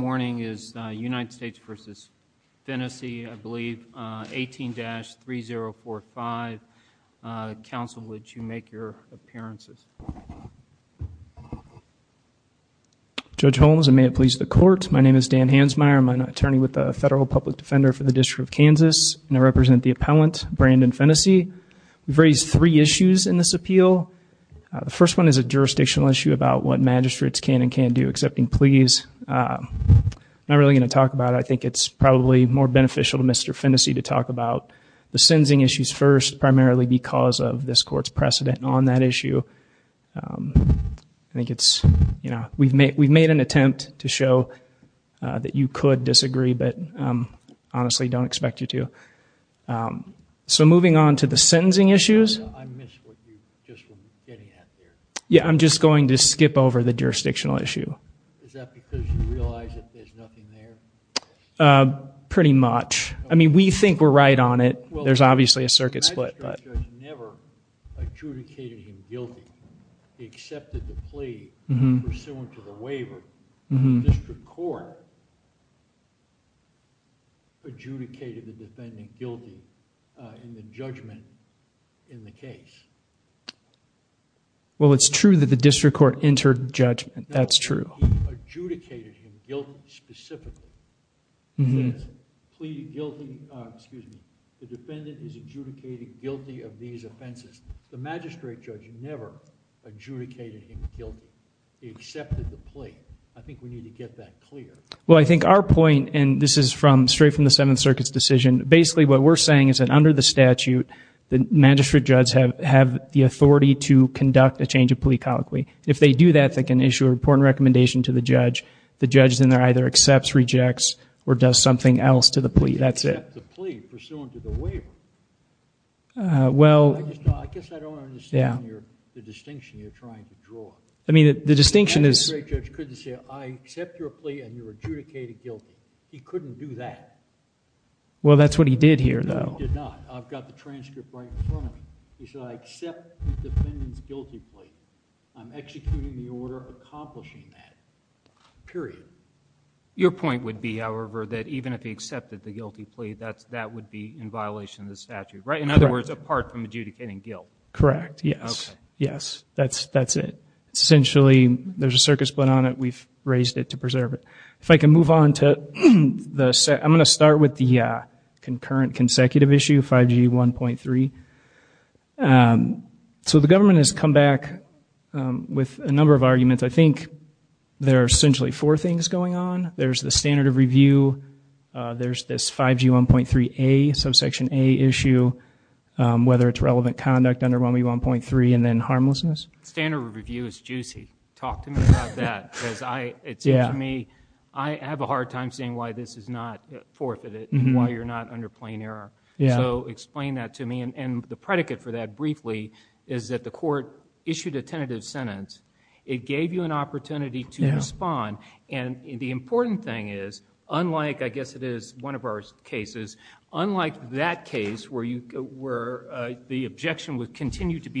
is United States v. Finnesy, I believe, 18-3045. Counsel, would you make your appearances? Judge Holmes, and may it please the Court, my name is Dan Hansmeier. I'm an attorney with the Federal Public Defender for the District of Kansas, and I represent the appellant, Brandon Finnesy. We've raised three issues in this appeal. The first one is a jurisdictional issue about what magistrates can and can't do, accepting pleas. I'm not really going to talk about it. I think it's probably more beneficial to Mr. Finnesy to talk about the sentencing issues first, primarily because of this Court's precedent on that issue. We've made an attempt to show that you could disagree, but honestly don't expect you to. So moving on, I'm going to skip over the jurisdictional issue. Is that because you realize that there's nothing there? Pretty much. I mean, we think we're right on it. There's obviously a circuit split. The magistrate judge never adjudicated him guilty. He accepted the plea pursuant to the waiver, but the district court adjudicated the defendant guilty in the judgment in the district court inter-judgment. That's true. No, he adjudicated him guilty specifically. He says the defendant is adjudicated guilty of these offenses. The magistrate judge never adjudicated him guilty. He accepted the plea. I think we need to get that clear. Well, I think our point, and this is straight from the Seventh Circuit's decision, basically what we're saying is that under the statute, the magistrate judge have the authority to if they do that, they can issue a report and recommendation to the judge. The judge then either accepts, rejects, or does something else to the plea. That's it. The plea pursuant to the waiver. Well, I guess I don't understand the distinction you're trying to draw. I mean, the distinction is. The magistrate judge couldn't say, I accept your plea and you're adjudicated guilty. He couldn't do that. Well, that's what he did here, though. He did not. I've got the transcript right in front of me. He said, I accept the defendant's guilty plea. I'm executing the order accomplishing that, period. Your point would be, however, that even if he accepted the guilty plea, that would be in violation of the statute, right? In other words, apart from adjudicating guilt. Correct, yes. Yes, that's it. Essentially, there's a circuit split on it. We've raised it to preserve it. If I can move on. I'm going to start with the concurrent, consecutive issue, 5G 1.3. So the government has come back with a number of arguments. I think there are essentially four things going on. There's the standard of review. There's this 5G 1.3a, subsection a issue, whether it's relevant conduct under 1B 1.3, and then harmlessness. Standard of review is juicy. Talk to me about that. I have a hard time seeing why this is not forfeited and why you're not under plain error. Explain that to me. The predicate for that, briefly, is that the court issued a tentative sentence. It gave you an opportunity to respond. The important thing is, unlike, I guess it is one of our cases, unlike that case where the objection would continue to not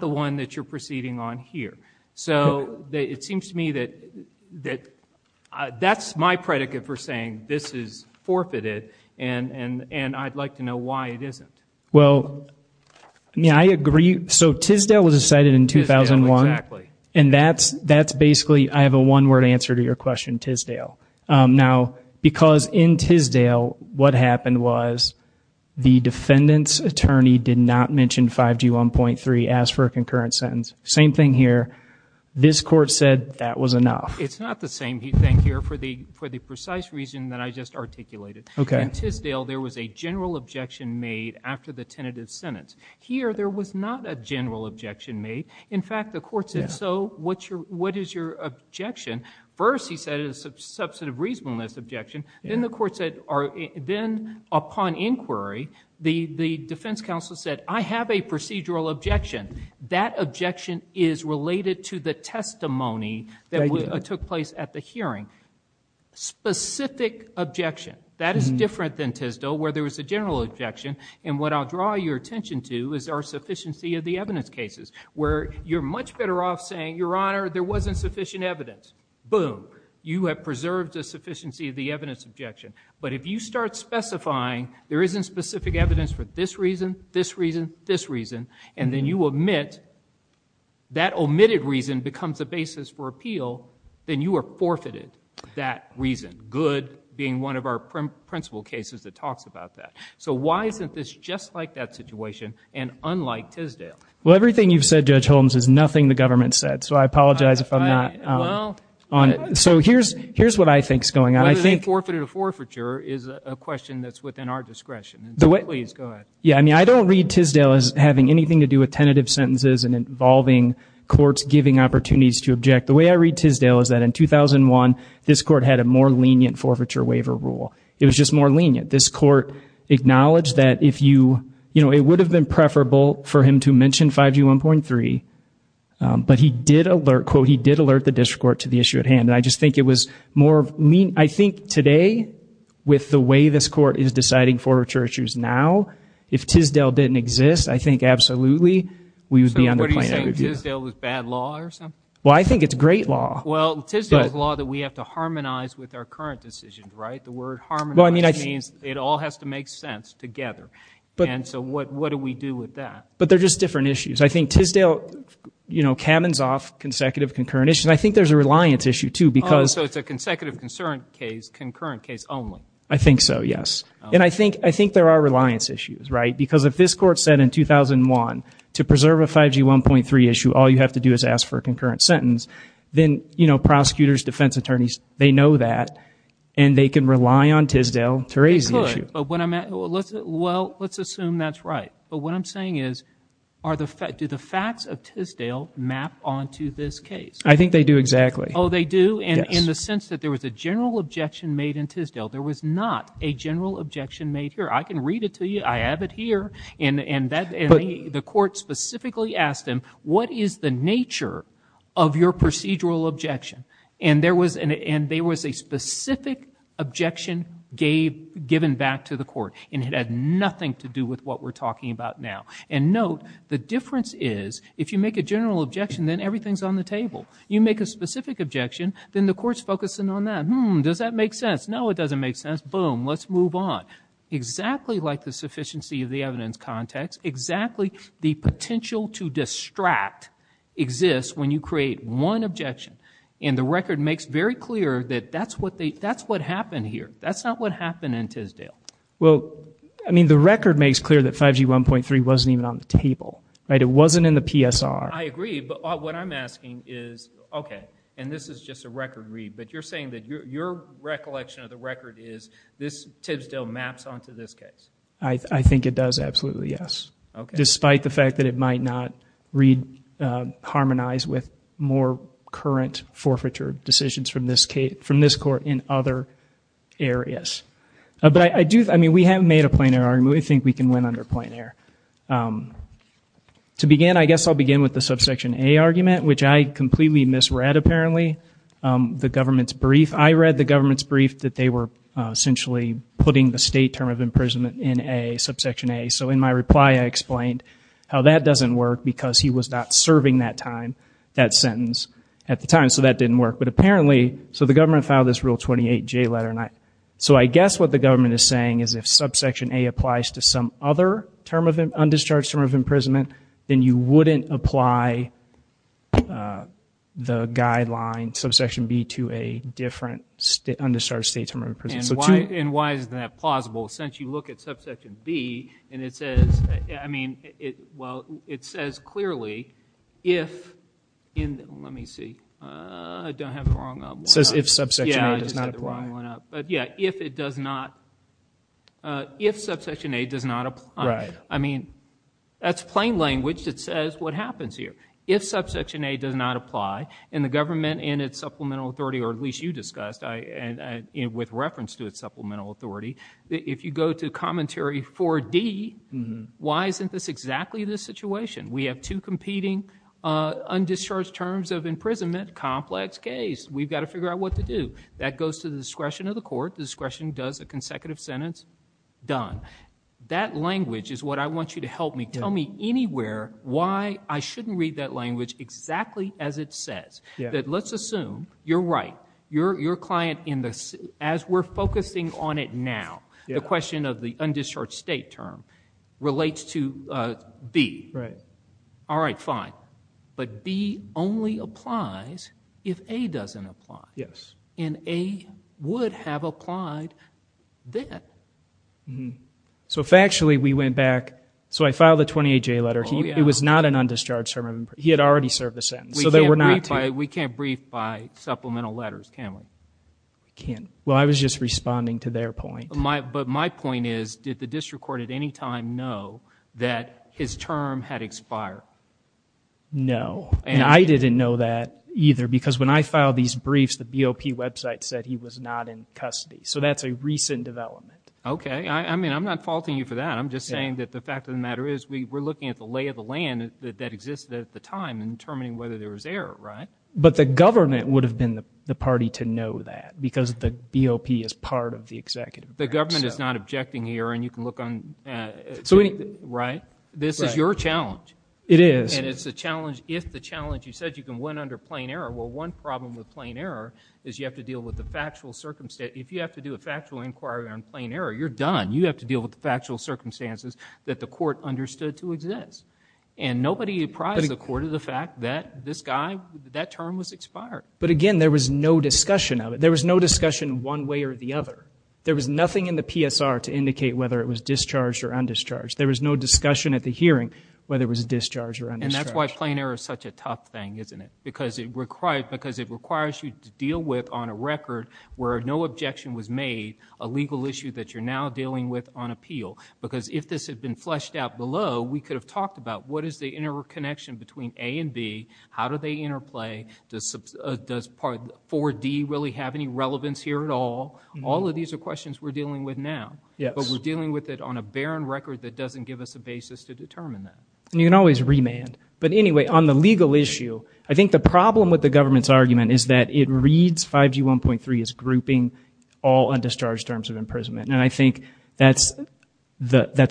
the one that you're proceeding on here. It seems to me that that's my predicate for saying this is forfeited. I'd like to know why it isn't. I agree. Tisdale was decided in 2001. That's basically, I have a one-word answer to your question, Tisdale. Because in Tisdale, what happened was the defendant's attorney did not mention 5G 1.3, asked for a concurrent sentence. Same thing here. This court said that was enough. It's not the same thing here for the precise reason that I just articulated. In Tisdale, there was a general objection made after the tentative sentence. Here, there was not a general objection made. In fact, the court said, so what is your objection? First, he said it was a substantive reasonableness objection. Then, upon inquiry, the defense counsel said, I have a procedural objection. That objection is related to the testimony that took place at the hearing. Specific objection. That is different than Tisdale, where there was a general objection. What I'll draw your attention to is our sufficiency of the evidence cases, where you're much better off saying, Your Honor, there wasn't sufficient evidence. Boom. You have preserved a sufficiency of the evidence objection. But if you start specifying, there isn't specific evidence for this reason, this reason, this reason, and then you omit, that omitted reason becomes a basis for appeal, then you are forfeited that reason. Good being one of our principal cases that talks about that. Why isn't this just like that situation and unlike Tisdale? Everything you've said, Judge Holmes, is nothing the government said. So I apologize if I'm not on it. So here's what I think is going on. Whether they forfeited a forfeiture is a question that's within our discretion. Please, go ahead. Yeah, I mean, I don't read Tisdale as having anything to do with tentative sentences and involving courts giving opportunities to object. The way I read Tisdale is that in 2001, this court had a more lenient forfeiture waiver rule. It was just more lenient. This but he did alert, quote, he did alert the district court to the issue at hand. And I just think it was more lenient. I think today, with the way this court is deciding forfeiture issues now, if Tisdale didn't exist, I think absolutely, we would be underplayed. So what are you saying, Tisdale was bad law or something? Well, I think it's great law. Well, Tisdale's law that we have to harmonize with our current decisions, right? The word harmonize means it all has to make sense together. And so what do we do with that? But they're just different issues. I think Tisdale, you know, cabins off consecutive concurrent issues. I think there's a reliance issue, too, because So it's a consecutive concern case, concurrent case only. I think so, yes. And I think I think there are reliance issues, right? Because if this court said in 2001, to preserve a 5G 1.3 issue, all you have to do is ask for a concurrent sentence, then, you know, prosecutors, defense attorneys, they know that and they can rely on Tisdale to raise the issue. Well, let's assume that's right. But what I'm saying is, do the facts of Tisdale map onto this case? I think they do exactly. Oh, they do? And in the sense that there was a general objection made in Tisdale, there was not a general objection made here. I can read it to you. I have it here. And the court specifically asked him, what is the nature of your procedural objection? And there was a specific objection given back to the court. And it had nothing to do with what we're talking about now. And note, the difference is, if you make a general objection, then everything's on the table. You make a specific objection, then the court's focusing on that. Hmm, does that make sense? No, it doesn't make sense. Boom, let's move on. Exactly like the sufficiency of the evidence context, exactly the potential to distract exists when you create one objection. And the record makes very clear that that's what happened here. That's not what happened in Tisdale. Well, I mean, the record makes clear that 5G 1.3 wasn't even on the table. It wasn't in the PSR. I agree. But what I'm asking is, OK, and this is just a record read. But you're saying that your recollection of the record is this Tisdale maps onto this case? I think it does absolutely, yes. Despite the fact that it might not read, harmonize with more current forfeiture decisions from this case, from this court in other areas. But I do, I mean, we have made a planar argument. I think we can win under planar. To begin, I guess I'll begin with the subsection A argument, which I completely misread, apparently. The government's brief, I read the government's brief that they were essentially putting the state term of imprisonment in a subsection A. So in my reply, I explained how that doesn't work because he was not serving that time that sentence at the time. So that didn't work. But apparently, so the government filed this rule 28 J letter. So I guess what the government is saying is if subsection A applies to some other term of undischarged term of imprisonment, then you wouldn't apply the guideline subsection B to a different state, undischarged state term of imprisonment. And why is that plausible? Since you look at subsection B and it says, I mean, it well, it says clearly if in, let me see, I don't have the wrong one up. It says if subsection A does not apply. But yeah, if it does not, if subsection A does not apply. I mean, that's plain language that says what happens here. If subsection A does not apply and the government and its supplemental authority, or at least you discussed, with reference to its supplemental authority, if you go to commentary 4D, why isn't this exactly the situation? We have two competing undischarged terms of imprisonment, complex case. We've got to figure out what to do. That goes to the discretion of the court. The discretion does a consecutive sentence, done. That language is what I want you to help me. Tell me anywhere why I shouldn't read that language exactly as it says. That let's assume you're right. Your client in this, as we're now. The question of the undischarged state term relates to B. All right, fine. But B only applies if A doesn't apply. And A would have applied then. So factually, we went back. So I filed a 28-J letter. It was not an undischarged sermon. He had already served a sentence. So there were not two. We can't brief by supplemental letters, can we? We can't. Well, I was just responding to their point. But my point is, did the district court at any time know that his term had expired? No. And I didn't know that either. Because when I filed these briefs, the BOP website said he was not in custody. So that's a recent development. Okay. I mean, I'm not faulting you for that. I'm just saying that the fact of the matter is, we're looking at the lay of the land that existed at the time and determining whether there was But the government would have been the party to know that, because the BOP is part of the executive branch. The government is not objecting here. And you can look on. Right? This is your challenge. It is. And it's a challenge if the challenge, you said you can win under plain error. Well, one problem with plain error is you have to deal with the factual circumstance. If you have to do a factual inquiry on plain error, you're done. You have to deal with the factual circumstances that the court understood to exist. And nobody apprised the court of the fact that that term was expired. But again, there was no discussion of it. There was no discussion one way or the other. There was nothing in the PSR to indicate whether it was discharged or undischarged. There was no discussion at the hearing whether it was discharged or undischarged. And that's why plain error is such a tough thing, isn't it? Because it requires you to deal with, on a record where no objection was made, a legal issue that you're now dealing with on appeal. Because if this had been fleshed out below, we could have talked about, what is the interconnection between A and B? How do they interplay? Does Part 4D really have any relevance here at all? All of these are questions we're dealing with now. But we're dealing with it on a barren record that doesn't give us a basis to determine that. And you can always remand. But anyway, on the legal issue, I think the problem with the government's argument is that it reads 5G 1.3 as grouping all undischarged terms of imprisonment. And I think that's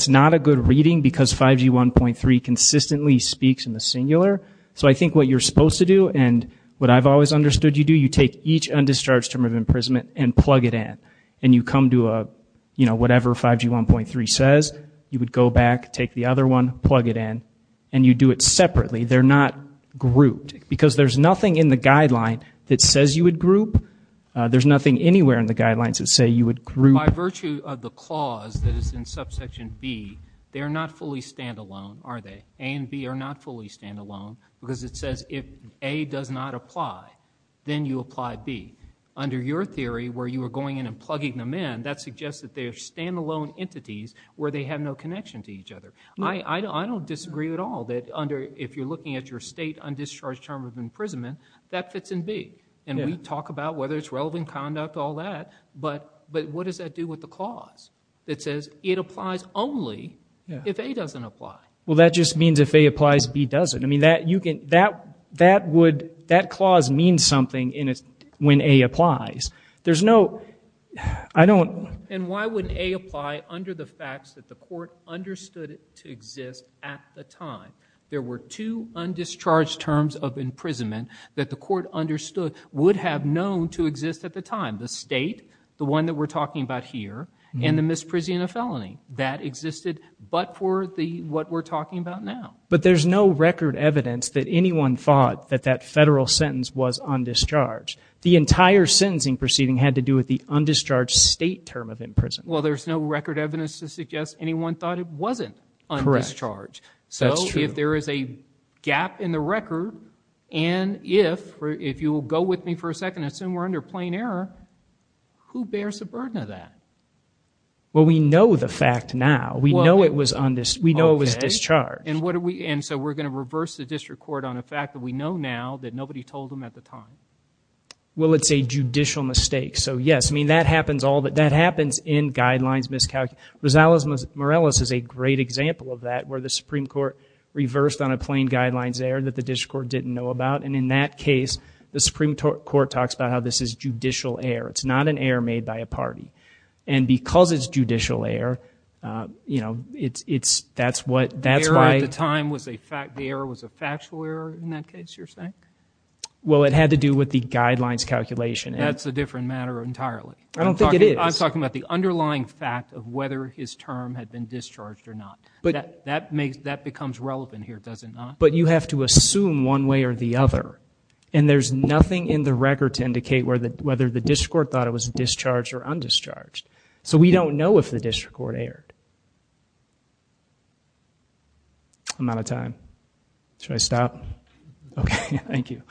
not a good reading because 5G 1.3 consistently speaks in the singular. So I think what you're supposed to do, and what I've always understood you do, you take each undischarged term of imprisonment and plug it in. And you come to a, you know, whatever 5G 1.3 says, you would go back, take the other one, plug it in, and you do it separately. They're not grouped. Because there's nothing in the guideline that says you would group. There's nothing anywhere in the guidelines that say you would group. By virtue of the clause that is in subsection B, they're not fully standalone, are they? A and B are not fully standalone because it says if A does not apply, then you apply B. Under your theory, where you were going in and plugging them in, that suggests that they're standalone entities where they have no connection to each other. I don't disagree at all that under, if you're looking at your state undischarged term of imprisonment, that fits in B. And we talk about whether it's relevant conduct, all that. But what does that do with the clause that says it applies only if A doesn't apply? Well, that just means if A applies, B doesn't. I mean, that you can, that would, that clause means something when A applies. There's no, I don't. And why wouldn't A apply under the facts that the court understood it to exist at the time? There were two undischarged terms of imprisonment that the court understood, would have known to exist at the time. The state, the one that we're talking about here, and the misprision of felony that existed, but for the, what we're talking about now. But there's no record evidence that anyone thought that that federal sentence was undischarged. The entire sentencing proceeding had to do with the undischarged state term of imprisonment. Well, there's no record evidence to suggest anyone thought it wasn't undischarged. So if there is a gap in the record, and if, if you will go with me for a second, assume we're under plain error, who bears the burden of that? Well, we know the fact now. We know it was undis, we know it was discharged. And what do we, and so we're going to reverse the district court on a fact that we know now that nobody told them at the time. Well, it's a judicial mistake. So yes, I mean, that happens all the, that happens in guidelines miscalculation. Rosales-Morales is a great example of that, where the Supreme Court reversed on a plain guidelines error that the district court didn't know about. And in that case, the Supreme Court talks about how this is judicial error. It's not an error made by a party. And because it's judicial error, you know, it's, it's, that's what, that's why- The error at the time was a fact, the error was a factual error in that case, you're saying? Well, it had to do with the guidelines calculation. That's a different matter entirely. I don't think it is. I'm talking about the underlying fact of whether his term had been discharged or not. But that makes, that becomes relevant here, does it not? But you have to assume one way or the other. And there's nothing in the record to indicate where the, whether the district court thought it was discharged or undischarged. So we don't know if the district court erred. I'm out of time. Should I stop? Okay, thank you.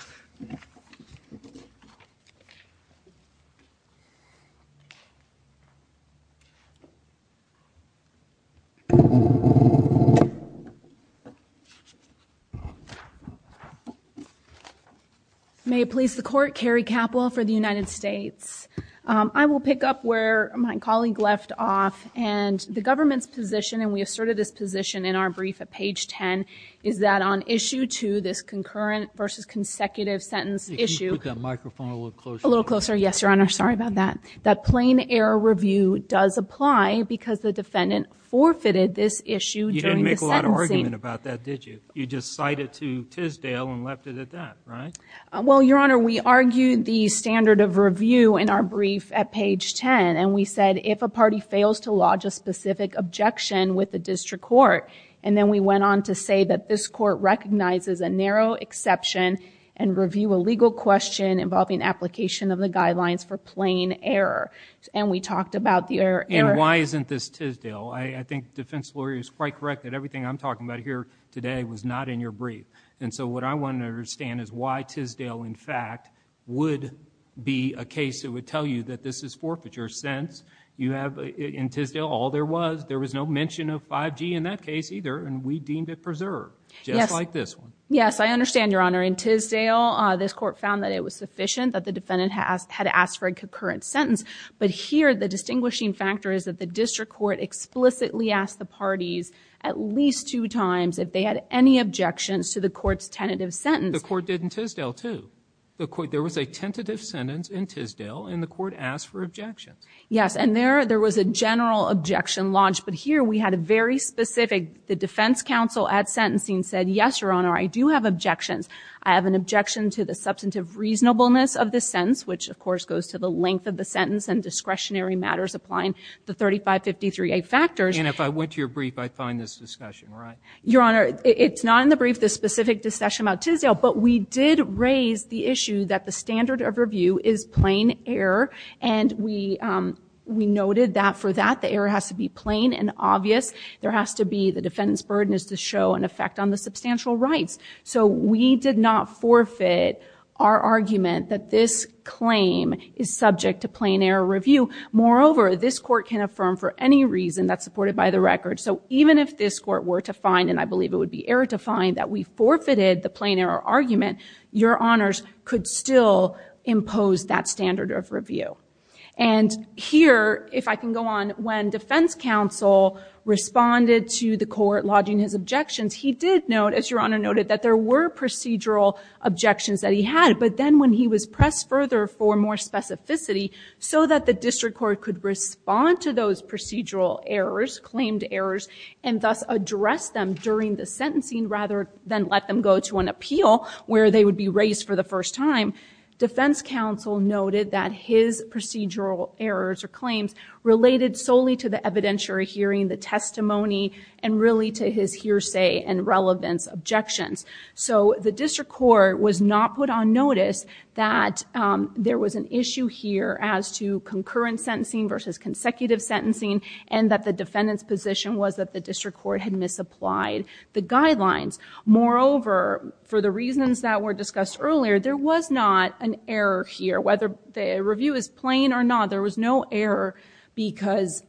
May it please the court, Carrie Capil for the United States. I will pick up where my colleague left off. And the government's position, and we asserted this position in our brief at page 10, is that on issue two, this concurrent versus consecutive sentence issue- Can you put that microphone a little closer? A little closer. Yes, Your Honor. Sorry about that. That plain error review does apply because the defendant forfeited this issue during the sentencing. You didn't make a lot of argument about that, did you? You just cite it to Tisdale and left it at that, right? Well, Your Honor, we argued the standard of review in our brief at page 10. And we said, if a party fails to lodge a specific objection with the district court, and then we went on to say that this court recognizes a narrow exception and review a application of the guidelines for plain error. And we talked about the error- And why isn't this Tisdale? I think the defense lawyer is quite correct that everything I'm talking about here today was not in your brief. And so what I want to understand is why Tisdale, in fact, would be a case that would tell you that this is forfeiture. Since you have, in Tisdale, all there was, there was no mention of 5G in that case either, and we deemed it preserved, just like this one. Yes, I understand, Your Honor. In Tisdale, this court found that it was sufficient that the defendant had asked for a concurrent sentence. But here, the distinguishing factor is that the district court explicitly asked the parties at least two times if they had any objections to the court's tentative sentence. The court did in Tisdale too. There was a tentative sentence in Tisdale, and the court asked for objections. Yes, and there was a general objection lodged. But here, we had a very specific, the defense counsel at sentencing said, yes, Your Honor, I do have objections. I have an objection to the substantive reasonableness of the sentence, which, of course, goes to the length of the sentence and discretionary matters applying the 3553A factors. And if I went to your brief, I'd find this discussion, right? Your Honor, it's not in the brief, the specific discussion about Tisdale, but we did raise the issue that the standard of review is plain error. And we noted that for that, the error has to be substantial rights. So we did not forfeit our argument that this claim is subject to plain error review. Moreover, this court can affirm for any reason that's supported by the record. So even if this court were to find, and I believe it would be error to find, that we forfeited the plain error argument, Your Honors could still impose that standard of review. And here, if I can go on, when defense counsel responded to the court lodging his objections, he did note, as Your Honor noted, that there were procedural objections that he had. But then when he was pressed further for more specificity so that the district court could respond to those procedural errors, claimed errors, and thus address them during the sentencing rather than let them go to an appeal where they would be raised for the first time, defense counsel noted that his procedural errors or claims related solely to the evidentiary hearing, the testimony, and really to his hearsay and relevance objections. So the district court was not put on notice that there was an issue here as to concurrent sentencing versus consecutive sentencing and that the defendant's position was that the district court had misapplied the guidelines. Moreover, for the reasons that were discussed earlier, there was not an error here. Whether the review is plain or not, there was no error because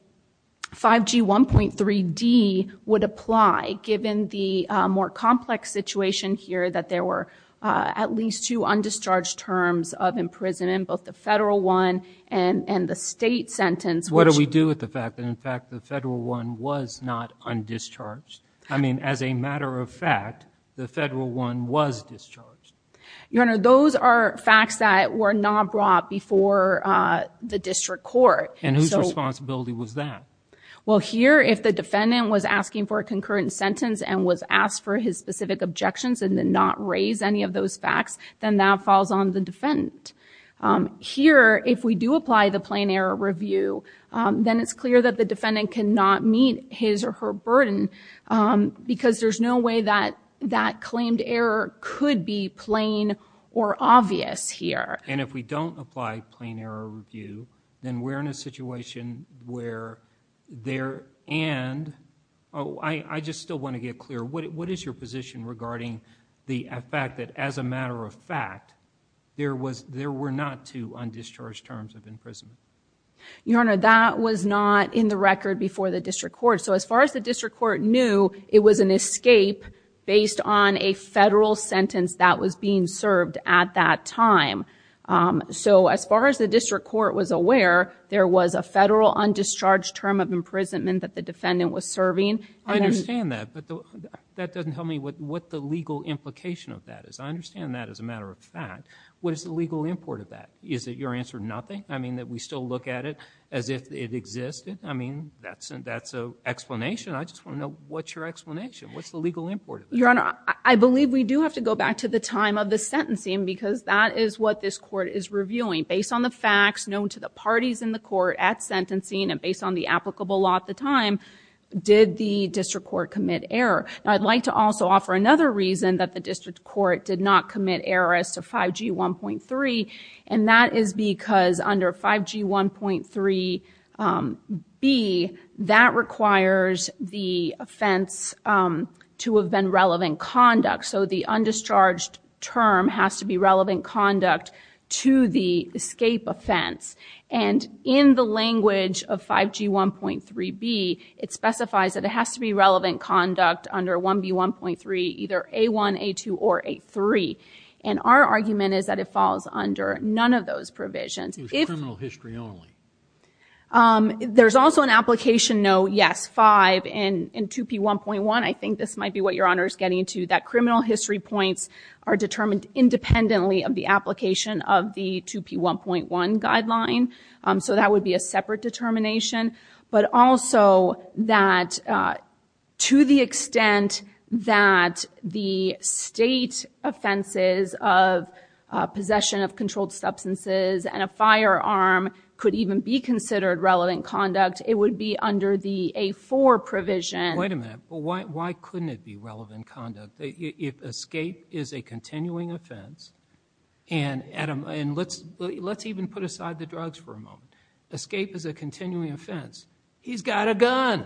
5G 1.3d would apply, given the more complex situation here that there were at least two undischarged terms of imprisonment, both the federal one and the state sentence. What do we do with the fact that, in fact, the federal one was not undischarged? I mean, as a matter of fact, the federal one was discharged. Your Honor, those are facts that were not brought before the district court. And whose responsibility was that? Well, here, if the defendant was asking for a concurrent sentence and was asked for his specific objections and did not raise any of those facts, then that falls on the defendant. Here, if we do apply the plain error review, then it's clear that the defendant cannot meet his or her burden because there's no way that that claimed error could be plain or obvious here. And if we don't apply plain error review, then we're in a situation where there and, oh, I just still want to get clear, what is your position regarding the fact that, as a matter of fact, there were not two undischarged terms of imprisonment? Your Honor, that was not in the record before the district court. So, as far as the district court knew, it was an escape based on a federal sentence that was being served at that time. So, as far as the district court was aware, there was a federal undischarged term of imprisonment that the defendant was serving. I understand that, but that doesn't tell me what the legal implication of that is. I understand that as a matter of fact. What is the legal import of that? Is it your answer, nothing? I mean, that we still look at it as if it existed? I mean, that's an explanation. I just want to know what's your explanation. What's the legal import? Your Honor, I believe we do have to go back to the time of the sentencing because that is what this court is reviewing. Based on the facts known to the parties in the court at sentencing and based on the applicable law at the time, did the district court commit error? Now, I'd like to also offer another reason that the district court did not commit errors to 5G1.3, and that is because under 5G1.3B, that requires the offense to have been relevant conduct. So, the undischarged term has to be relevant conduct to the escape offense. And in the language of 5G1.3B, it specifies that it has to be relevant conduct under 1B1.3, either A1, A2, or A3. And our argument is that it falls under none of those provisions. It's criminal history only. There's also an application note, yes, 5 in 2P1.1. I think this might be what Your Honor is getting to, that criminal history points are determined independently of the application of the 2P1.1 that to the extent that the state offenses of possession of controlled substances and a firearm could even be considered relevant conduct, it would be under the A4 provision. Wait a minute. Why couldn't it be relevant conduct? If escape is a continuing offense, and let's even put aside the drugs for a moment. Escape is a continuing offense. He's got a gun.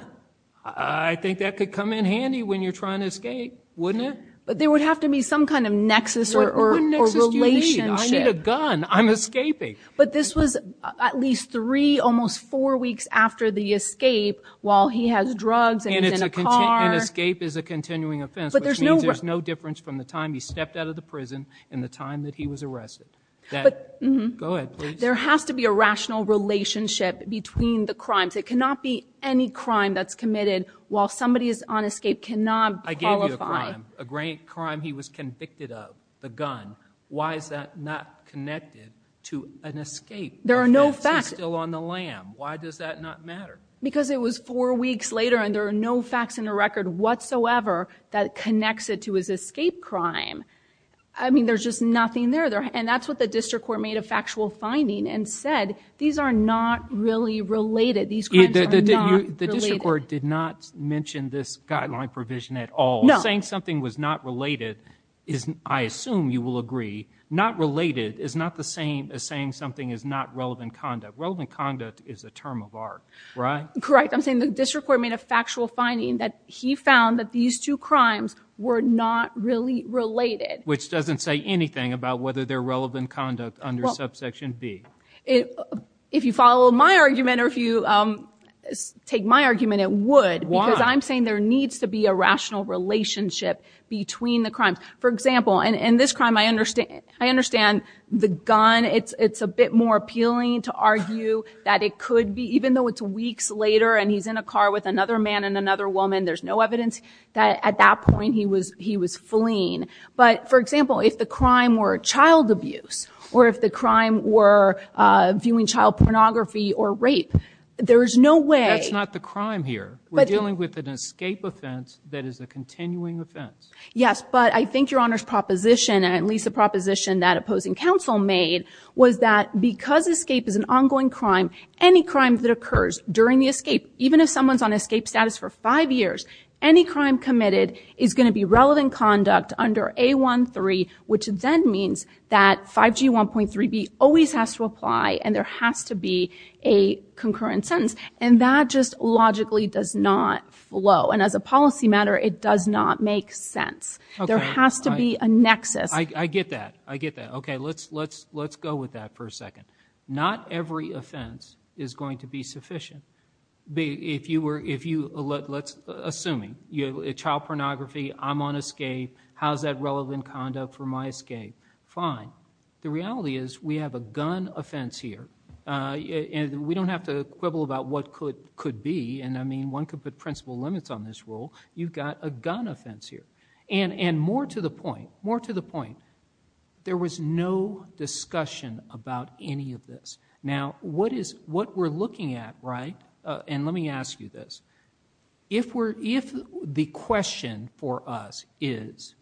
I think that could come in handy when you're trying to escape, wouldn't it? But there would have to be some kind of nexus or relationship. What nexus do you need? I need a gun. I'm escaping. But this was at least three, almost four weeks after the escape, while he has drugs and he's in a car. And escape is a continuing offense, which means there's no difference from the time he stepped out of the prison and the time that he was arrested. Go ahead, please. There has to be a rational relationship between the crimes. It cannot be any crime that's committed while somebody is on escape. Cannot qualify. I gave you a crime. A great crime he was convicted of. The gun. Why is that not connected to an escape? There are no facts. If he's still on the lam, why does that not matter? Because it was four weeks later and there are no facts in the record whatsoever that connects it to his escape crime. I mean, there's just nothing there. And that's what the district court made a factual finding and said, these are not really related. These crimes are not related. The district court did not mention this guideline provision at all. Saying something was not related is, I assume you will agree, not related is not the same as saying something is not relevant conduct. Relevant conduct is a term of art, right? Correct. I'm saying the district court made a factual finding that he found that these two crimes were not really related. Which doesn't say anything about whether they're relevant conduct under subsection B. If you follow my argument or if you take my argument, it would because I'm saying there needs to be a rational relationship between the crimes. For example, in this crime, I understand the gun. It's a bit more appealing to argue that it could be, even though it's weeks later and he's in a car with another man and another woman, there's no evidence that at that point he was fleeing. But for example, if the crime were child abuse, or if the crime were viewing child pornography or rape, there is no way. That's not the crime here. We're dealing with an escape offense that is a continuing offense. Yes, but I think your Honor's proposition, at least the proposition that opposing counsel made, was that because escape is an ongoing crime, any crime that occurs during the escape, even if someone's on escape status for five years, any crime committed is going to be relevant conduct under A13, which then means that 5G 1.3b always has to apply and there has to be a concurrent sentence. And that just logically does not flow. And as a policy matter, it does not make sense. There has to be a nexus. I get that. I get that. Okay, let's go with that for a second. Not every offense is going to be sufficient. If you were, let's assume, child pornography, I'm on escape, how's that relevant conduct for my escape? Fine. The reality is we have a gun offense here. And we don't have to quibble about what could be. And I mean, one could put principle limits on this rule. You've got a gun offense here. And more to the point, more to the point, there was no discussion about any of this. Now, what we're looking at, right, and let me ask you this, if the question for us is,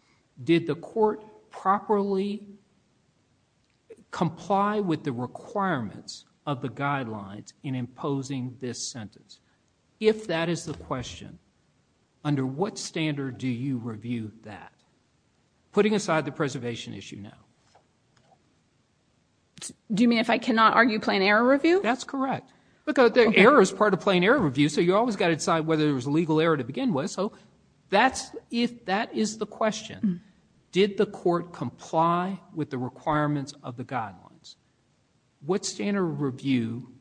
did the court properly comply with the requirements of the guidelines in imposing this sentence? If that is the question, under what standard do you review that? Putting aside the preservation issue now. Do you mean if I cannot argue plan error review? That's correct. Because error is part of plan error review. So you always got to decide whether there was a legal error to begin with. So that's if that is the question, did the court comply with the requirements of the guidelines? What standard review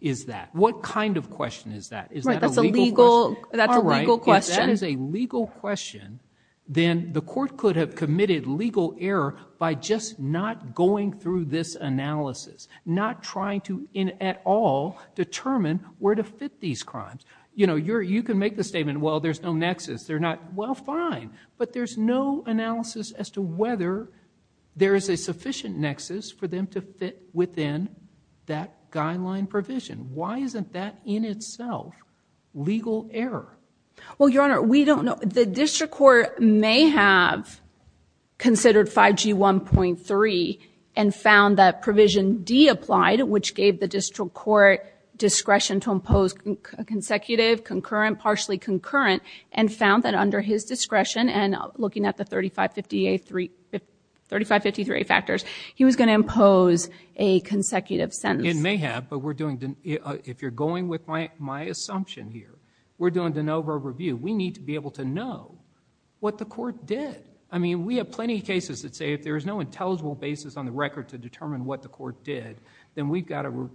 is that? What kind of question is that? Is that a legal question? That's a legal question. If that is a legal question, then the court could have committed legal error by just not going through this analysis, not trying to at all determine where to fit these crimes. You know, you can make the statement, well, there's no nexus. They're not, well, fine. But there's no analysis as to whether there is a sufficient nexus for them to fit within that guideline provision. Why isn't that in itself legal error? Well, Your Honor, we don't know. The district court may have considered 5G 1.3 and found that provision D applied, which gave the district court discretion to impose consecutive, concurrent, partially concurrent, and found that under his discretion and looking at the 3553A factors, he was going to impose a consecutive sentence. It may have, but we're doing, if you're going with my assumption here, we're doing de novo review. We need to be able to know what the court did. I mean, we have plenty of cases that say if there is no intelligible basis on the record to determine what the court did, then we've got to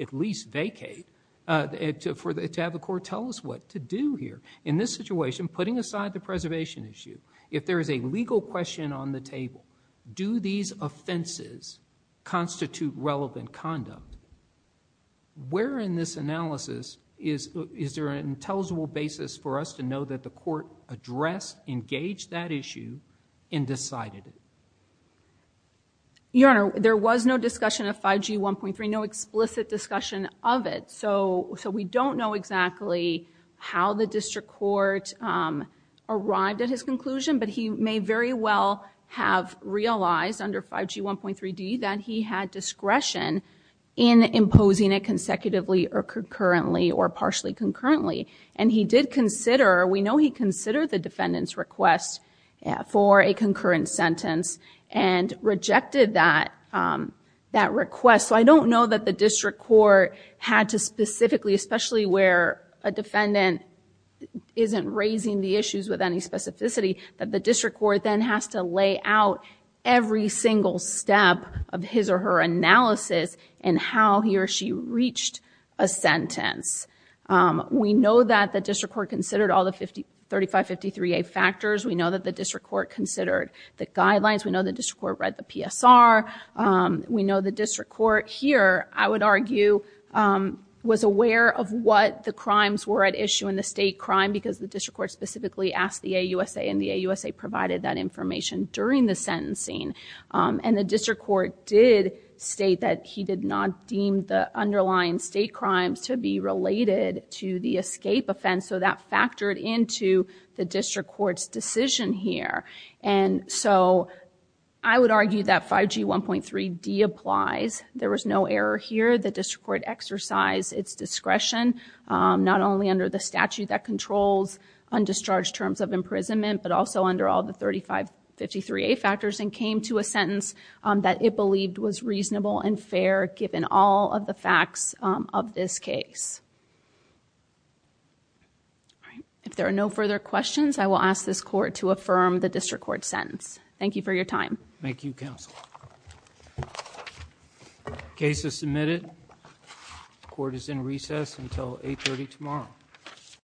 at least vacate to have the court tell us what to do here. In this situation, putting aside the preservation issue, if there is a legal question on the table, do these offenses constitute relevant conduct, where in this analysis is there an intelligible basis for us to know that the court addressed, engaged that issue, and decided it? Your Honor, there was no discussion of 5G 1.3, no explicit discussion of it, so we don't know exactly how the district court arrived at his conclusion, but he may very well have realized under 5G 1.3D that he had discretion in imposing it consecutively or concurrently or partially concurrently. And he did consider, we know he considered the defendant's request for a concurrent sentence and rejected that request. So I don't know that the district court had to specifically, especially where a defendant isn't raising the issues with any specificity, that the district court then has to lay out every single step of his or her analysis and how he or she reached a sentence. We know that the district court considered all the 3553A factors. We know that the district court considered the guidelines. We know the district court read the PSR. We know the district court here, I would argue, was aware of what the crimes were at issue in the state crime because the district court specifically asked the AUSA and the AUSA provided that information during the sentencing. And the district court did state that he did not deem the underlying state crimes to be related to the escape offense. So that factored into the district court's decision here. And so I would argue that 5G 1.3D applies. There was no error here. The district court exercised its discretion, not only under the statute that controls undischarged terms of imprisonment, but also under all the 3553A factors and came to a sentence that it believed was reasonable and fair given all of the facts of this case. If there are no further questions, I will ask this court to affirm the district court sentence. Thank you for your time. Thank you, counsel. Case is submitted. The court is in recess until 8 30 tomorrow.